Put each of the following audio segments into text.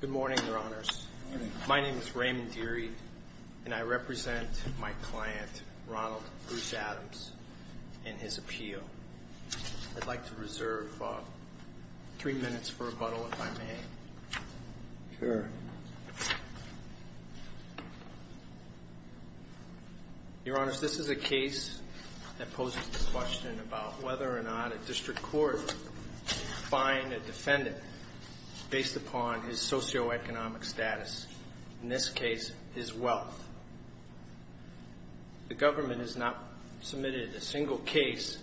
Good morning, Your Honors. My name is Raymond Deary, and I represent my client, Ronald Bruce Adams, in his appeal. I'd like to reserve three minutes for rebuttal, if I may. Your Honors, this is a case that poses the question about whether or not a district court can find a defendant based upon his socioeconomic status, in this case, his wealth. The government has not submitted a single case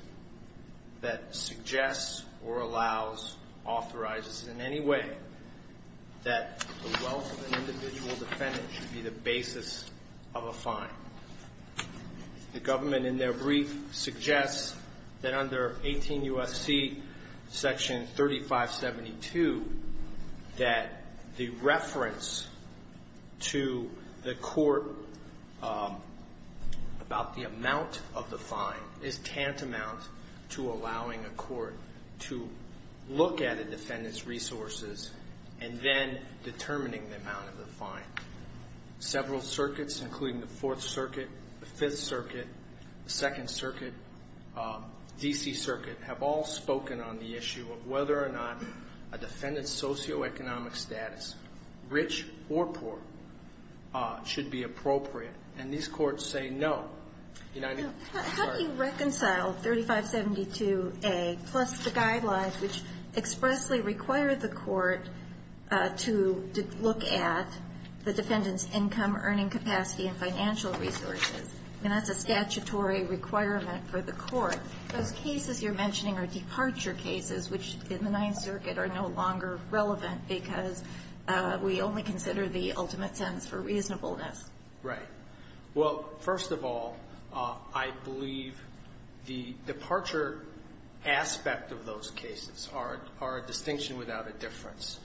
that suggests or allows, authorizes in any way, that the wealth of an individual defendant should be the basis of a fine. The government, in their brief, suggests that under 18 U.S.C. section 3572, that the reference to the court about the amount of the fine is tantamount to allowing a court to look at a defendant's resources and then determining the amount of the fine. Several circuits, including the Fourth Circuit, the Fifth Circuit, the Second Circuit, D.C. Circuit, have all spoken on the issue of whether or not a defendant's socioeconomic status, rich or poor, should be appropriate. And these courts say no. How do you reconcile 3572A plus the guidelines which expressly require the court to look at the defendant's income, earning capacity, and financial resources? I mean, that's a statutory requirement for the court. Those cases you're mentioning are departure cases, which in the Ninth Circuit are no longer relevant because we only consider the ultimate sentence for reasonableness. Right. Well, first of all, I believe the departure aspect of those cases are a distinction without a difference.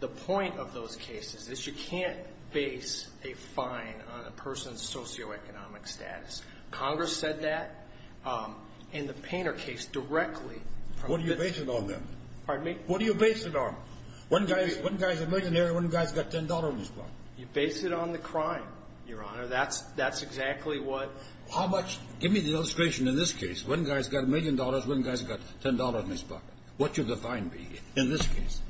The point of those cases is you can't base a fine on a person's socioeconomic status. Congress said that in the Painter case directly. What do you base it on, then? Pardon me? What do you base it on? One guy's a millionaire, one guy's got $10 in his pocket. You base it on the crime, Your Honor. That's exactly what — How much? Give me the illustration in this case. One guy's got a million dollars, one guy's got $10 in his pocket. What should the fine be in this case?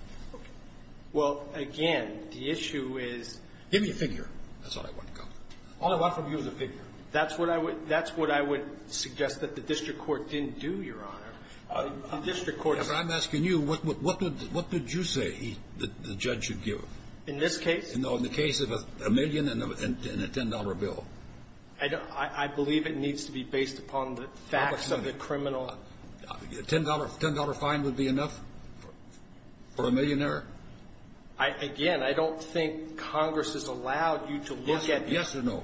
Well, again, the issue is — Give me a figure. That's all I want to come to. All I want from you is a figure. That's what I would — that's what I would suggest that the district court didn't do, Your Honor. The district court — I'm asking you, what did you say the judge should give? In this case? No, in the case of a million and a $10 bill. I don't — I believe it needs to be based upon the facts of the criminal — $10 fine would be enough for a millionaire? Again, I don't think Congress has allowed you to look at this. Yes or no?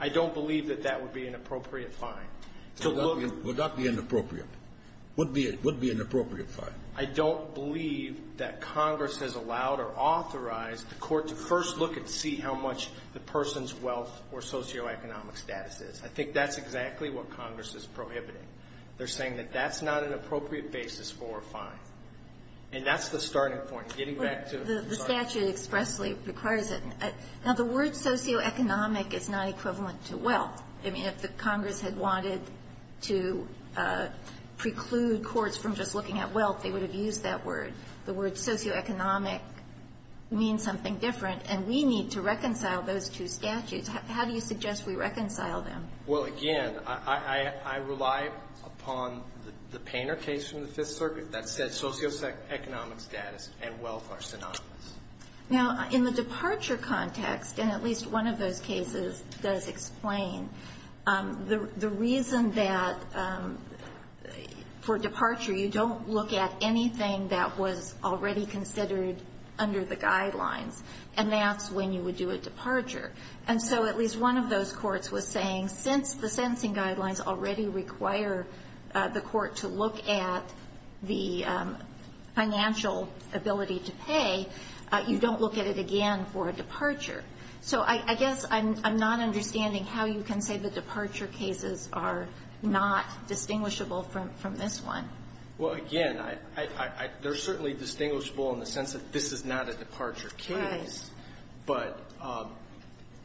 I don't believe that that would be an appropriate fine. Would that be inappropriate? Would be an appropriate fine? I don't believe that Congress has allowed or authorized the court to first look and see how much the person's wealth or socioeconomic status is. I think that's exactly what Congress is prohibiting. They're saying that that's not an appropriate basis for a fine. And that's the starting point. Getting back to — Now, the word socioeconomic is not equivalent to wealth. I mean, if the Congress had wanted to preclude courts from just looking at wealth, they would have used that word. The word socioeconomic means something different, and we need to reconcile those two statutes. How do you suggest we reconcile them? Well, again, I rely upon the Painter case from the Fifth Circuit that said socioeconomic status and wealth are synonymous. Now, in the departure context, and at least one of those cases does explain, the reason that for departure you don't look at anything that was already considered under the guidelines, and that's when you would do a departure. And so at least one of those courts was saying since the sentencing guidelines already require the court to look at the financial ability to pay, you don't look at it again for a departure. So I guess I'm not understanding how you can say the departure cases are not distinguishable from this one. Well, again, they're certainly distinguishable in the sense that this is not a departure case. Right. But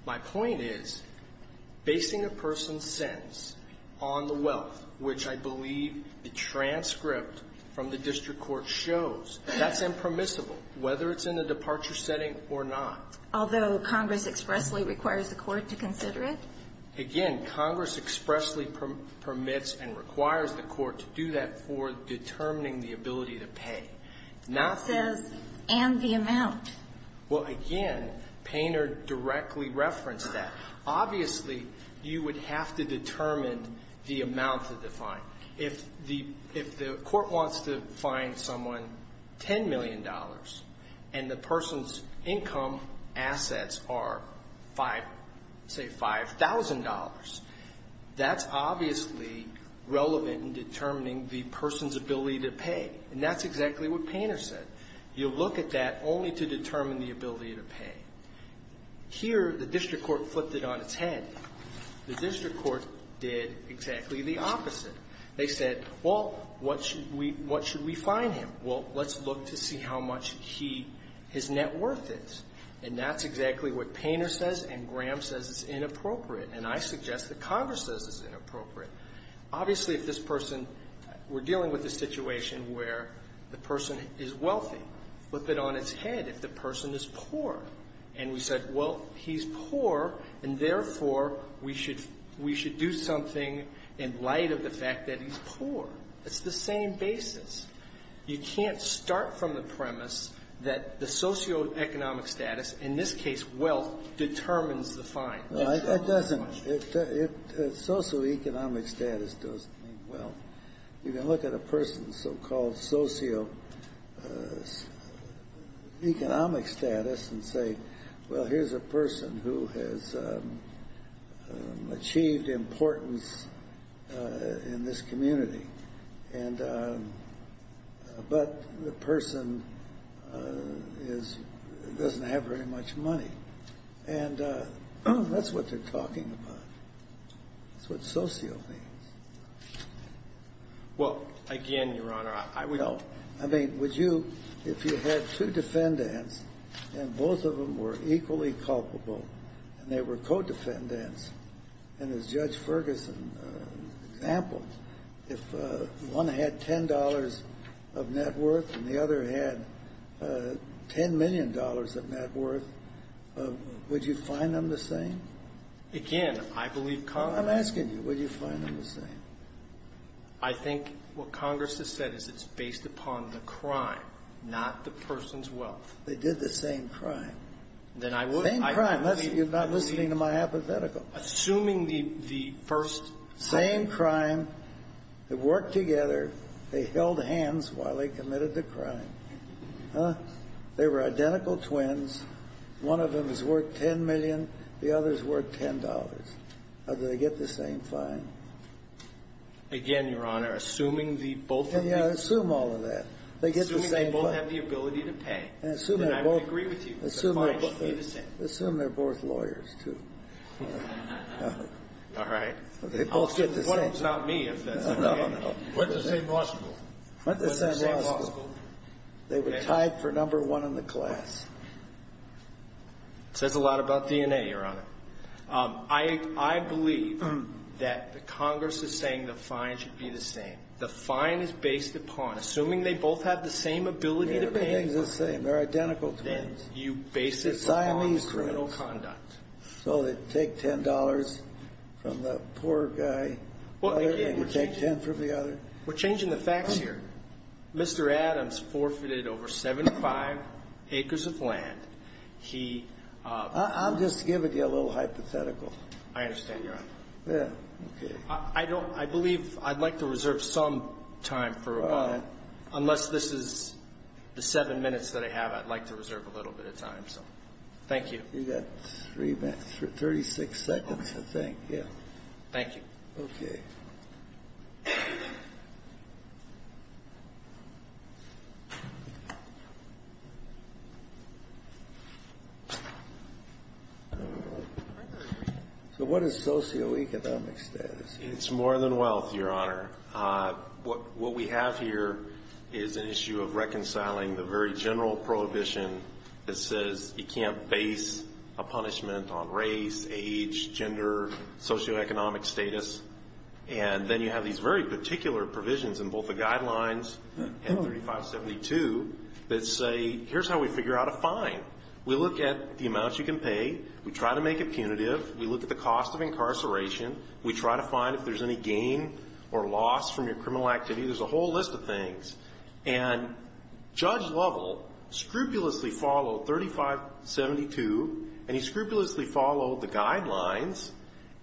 my point is basing a person's sentence on the wealth, which I believe the transcript from the district court shows, that's impermissible, whether it's in the departure setting or not. Although Congress expressly requires the court to consider it? Again, Congress expressly permits and requires the court to do that for determining the ability to pay. It says, and the amount. Well, again, Painter directly referenced that. Obviously, you would have to determine the amount of the fine. If the court wants to fine someone $10 million and the person's income assets are, say, $5,000, that's obviously relevant in determining the person's ability to pay. And that's exactly what Painter said. You look at that only to determine the ability to pay. Here, the district court flipped it on its head. The district court did exactly the opposite. They said, well, what should we fine him? Well, let's look to see how much his net worth is. And that's exactly what Painter says and Graham says is inappropriate. And I suggest that Congress says it's inappropriate. Obviously, if this person we're dealing with a situation where the person is wealthy, flip it on its head if the person is poor. And we said, well, he's poor, and therefore, we should do something in light of the fact that he's poor. It's the same basis. You can't start from the premise that the socioeconomic status, in this case wealth, determines the fine. No, it doesn't. Socioeconomic status doesn't mean wealth. You can look at a person's so-called socioeconomic status and say, well, here's a person who has achieved importance in this community, but the person doesn't have very much money. And that's what they're talking about. That's what socio means. Well, again, Your Honor, I would go. I mean, would you, if you had two defendants and both of them were equally culpable and they were co-defendants, and as Judge Ferguson example, if one had $10 of net worth and the other had $10 million of net worth, would you find them the same? Again, I believe Congress ---- I'm asking you, would you find them the same? I think what Congress has said is it's based upon the crime, not the person's wealth. They did the same crime. Then I would ---- Same crime. You're not listening to my hypothetical. Assuming the first ---- Same crime. They worked together. They held hands while they committed the crime. They were identical twins. One of them is worth $10 million. The other is worth $10. Do they get the same fine? Again, Your Honor, assuming the both of them ---- Yeah, assume all of that. Assuming they both have the ability to pay. And I would agree with you. Assume they're both lawyers, too. All right. They both get the same. What if it's not me? No, no, no. Went to the same law school. Went to the same law school. They were tied for number one in the class. It says a lot about DNA, Your Honor. I believe that Congress is saying the fine should be the same. The fine is based upon, assuming they both have the same ability to pay ---- Yeah, everything's the same. They're identical twins. Then you base it upon criminal conduct. They're Siamese twins. So they take $10 from the poor guy. They can take 10 from the other. We're changing the facts here. Mr. Adams forfeited over 75 acres of land. He ---- I'm just giving you a little hypothetical. I understand, Your Honor. Yeah. Okay. I don't ---- I believe I'd like to reserve some time for a moment. Unless this is the seven minutes that I have, I'd like to reserve a little bit of time. So thank you. You've got 36 seconds, I think. Yeah. Thank you. Okay. So what is socioeconomic status? It's more than wealth, Your Honor. What we have here is an issue of reconciling the very general prohibition that says you can't base a punishment on race, age, gender, socioeconomic status. And then you have these very particular provisions in both the guidelines and 3572 that say here's how we figure out a fine. We look at the amounts you can pay. We try to make it punitive. We look at the cost of incarceration. We try to find if there's any gain or loss from your criminal activity. There's a whole list of things. And Judge Lovell scrupulously followed 3572, and he scrupulously followed the guidelines,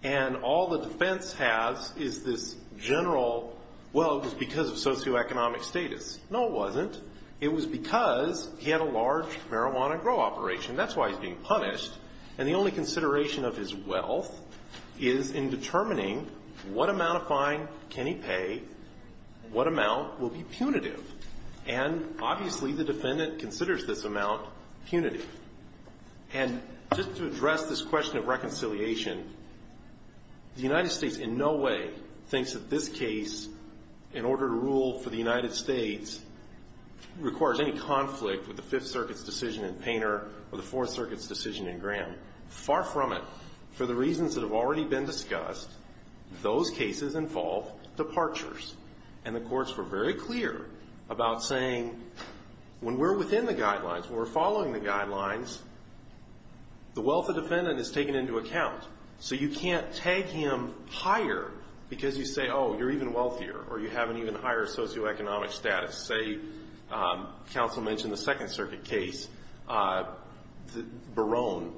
and all the defense has is this general, well, it was because of socioeconomic status. No, it wasn't. It was because he had a large marijuana grow operation. That's why he's being punished. And the only consideration of his wealth is in determining what amount of fine can he pay, what amount will be punitive. And obviously the defendant considers this amount punitive. And just to address this question of reconciliation, the United States in no way thinks that this case, in order to rule for the United States, requires any conflict with the Fifth Circuit's decision in Painter or the Fourth Circuit's decision in Graham. Far from it. For the reasons that have already been discussed, those cases involve departures. And the courts were very clear about saying when we're within the guidelines, when we're following the guidelines, the wealth of the defendant is taken into account. So you can't tag him higher because you say, oh, you're even wealthier or you have an even higher socioeconomic status. As I say, counsel mentioned the Second Circuit case, Barone.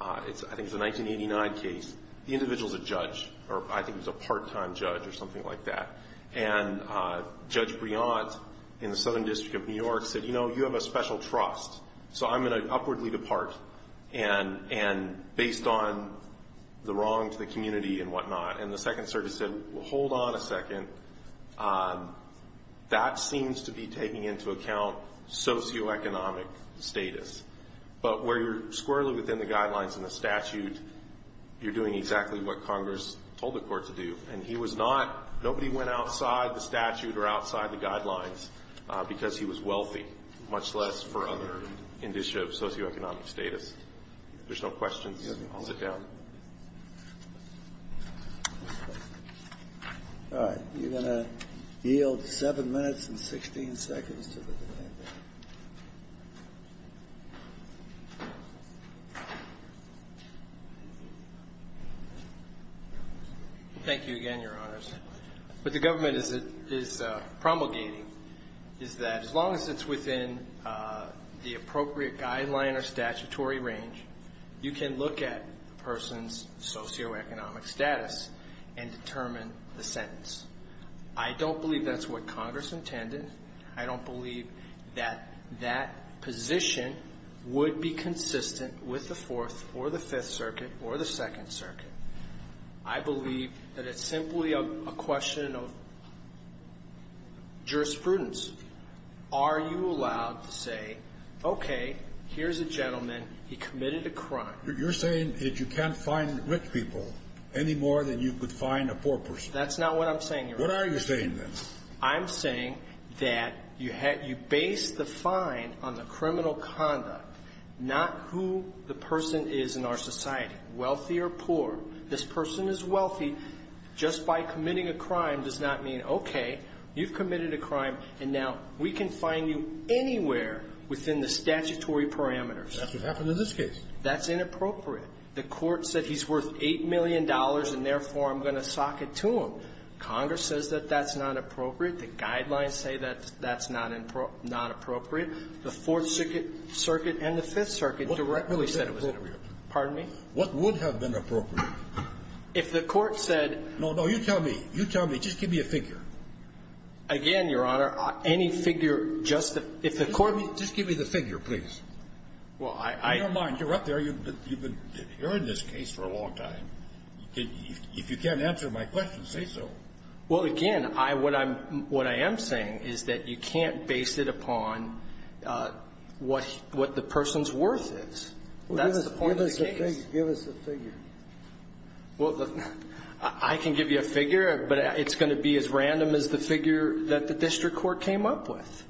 I think it's a 1989 case. The individual's a judge or I think he's a part-time judge or something like that. And Judge Briant in the Southern District of New York said, you know, you have a special trust, so I'm going to upwardly depart based on the wrong to the community and whatnot. And the Second Circuit said, well, hold on a second. That seems to be taking into account socioeconomic status. But where you're squarely within the guidelines in the statute, you're doing exactly what Congress told the court to do. And he was not ñ nobody went outside the statute or outside the guidelines because he was wealthy, much less for other indicia of socioeconomic status. If there's no questions, I'll sit down. All right. You're going to yield 7 minutes and 16 seconds to the debate. Thank you again, Your Honors. What the government is promulgating is that as long as it's within the appropriate guideline or statutory range, you can look at a person's socioeconomic status and determine the sentence. I don't believe that's what Congress intended. I don't believe that that position would be consistent with the Fourth or the Fifth Circuit or the Second Circuit. I believe that it's simply a question of jurisprudence. Are you allowed to say, okay, here's a gentleman, he committed a crime. You're saying that you can't fine rich people any more than you could fine a poor person. That's not what I'm saying, Your Honor. What are you saying, then? I'm saying that you base the fine on the criminal conduct, not who the person is in our society, wealthy or poor. This person is wealthy. Just by committing a crime does not mean, okay, you've committed a crime, and now we can fine you anywhere within the statutory parameters. That's what happened in this case. That's inappropriate. The Court said he's worth $8 million, and therefore I'm going to sock it to him. Congress says that that's not appropriate. The guidelines say that that's not appropriate. The Fourth Circuit and the Fifth Circuit directly said it was inappropriate. Pardon me? What would have been appropriate? If the Court said — No, no. You tell me. You tell me. Just give me a figure. Again, Your Honor, any figure just — Just give me the figure, please. Well, I — Never mind. You're up there. You've been hearing this case for a long time. If you can't answer my question, say so. Well, again, I — what I'm — what I am saying is that you can't base it upon what the person's worth is. That's the point of the case. Just give us a figure. Well, I can give you a figure, but it's going to be as random as the figure that the district court came up with.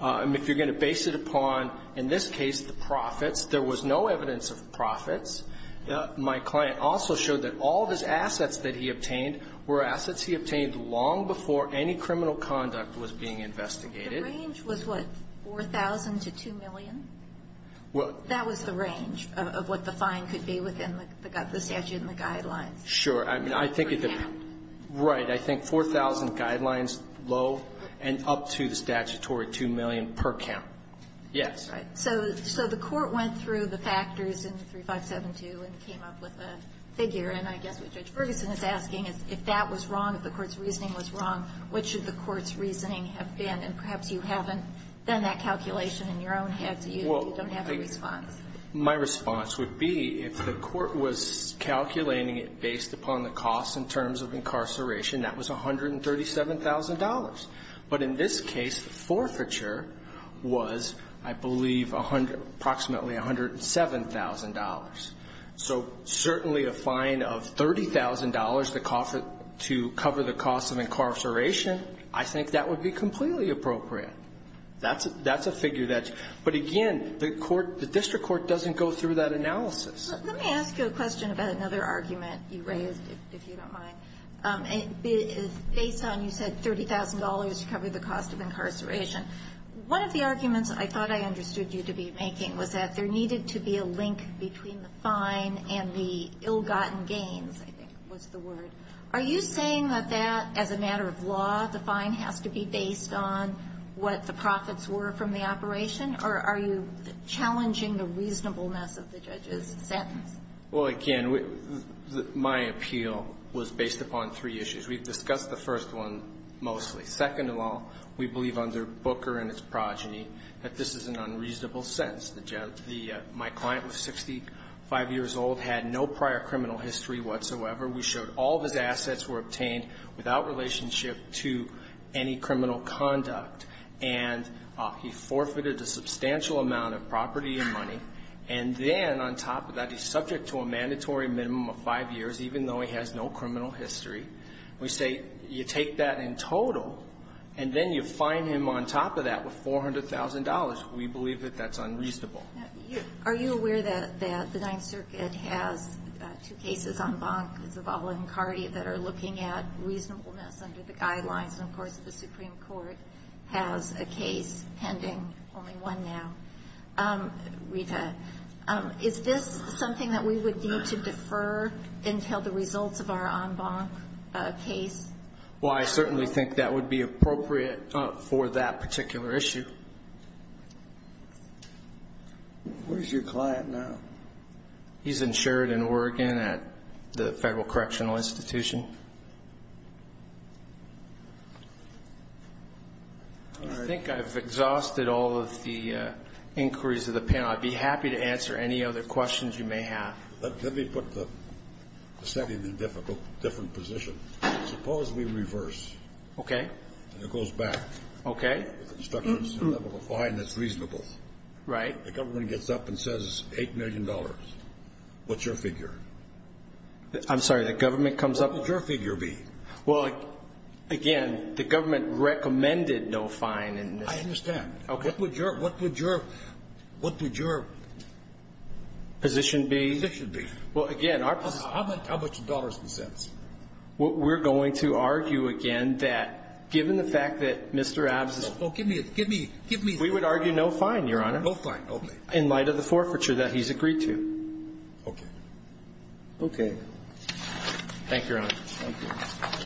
If you're going to base it upon, in this case, the profits, there was no evidence of profits. My client also showed that all of his assets that he obtained were assets he obtained long before any criminal conduct was being investigated. The range was, what, $4,000 to $2 million? Well — That was the range of what the fine could be within the statute and the guidelines. Sure. I mean, I think it — Per count. Right. I think 4,000 guidelines low and up to the statutory $2 million per count. Yes. Right. So the court went through the factors in 3572 and came up with a figure. And I guess what Judge Ferguson is asking is, if that was wrong, if the court's reasoning was wrong, what should the court's reasoning have been? And perhaps you haven't done that calculation in your own head, so you don't have a response. Well, my response would be, if the court was calculating it based upon the cost in terms of incarceration, that was $137,000. But in this case, the forfeiture was, I believe, approximately $107,000. So certainly a fine of $30,000 to cover the cost of incarceration, I think that would be completely appropriate. That's a figure that's — but again, the court — the district court doesn't go through that analysis. Let me ask you a question about another argument you raised, if you don't mind. Based on you said $30,000 to cover the cost of incarceration, one of the arguments I thought I understood you to be making was that there needed to be a link between the fine and the ill-gotten gains, I think was the word. Are you saying that that, as a matter of law, the fine has to be based on what the profits were from the operation? Or are you challenging the reasonableness of the judge's sentence? Well, again, my appeal was based upon three issues. We've discussed the first one mostly. Second of all, we believe under Booker and its progeny that this is an unreasonable sentence. The — my client was 65 years old, had no prior criminal history whatsoever. We showed all of his assets were obtained without relationship to any criminal conduct. And he forfeited a substantial amount of property and money. And then on top of that, he's subject to a mandatory minimum of five years, even though he has no criminal history. We say you take that in total, and then you fine him on top of that with $400,000. We believe that that's unreasonable. Now, are you aware that the Ninth Circuit has two cases, en banc as a voluntary, that are looking at reasonableness under the guidelines? And, of course, the Supreme Court has a case pending, only one now. Rita, is this something that we would need to defer until the results of our en banc case? Well, I certainly think that would be appropriate for that particular issue. Where's your client now? He's insured in Oregon at the Federal Correctional Institution. All right. I think I've exhausted all of the inquiries of the panel. I'd be happy to answer any other questions you may have. Let me put the setting in a different position. Suppose we reverse. Okay. And it goes back. Okay. The government gets up and says $8 million. What's your figure? I'm sorry. The government comes up. What would your figure be? Well, again, the government recommended no fine. I understand. Okay. What would your position be? Well, again, our position. How about your dollars and cents? Well, we're going to argue again that given the fact that Mr. Abzis. Oh, give me it. Give me it. Give me it. We would argue no fine, Your Honor. No fine. Okay. In light of the forfeiture that he's agreed to. Okay. Okay. Thank you, Your Honor. Thank you.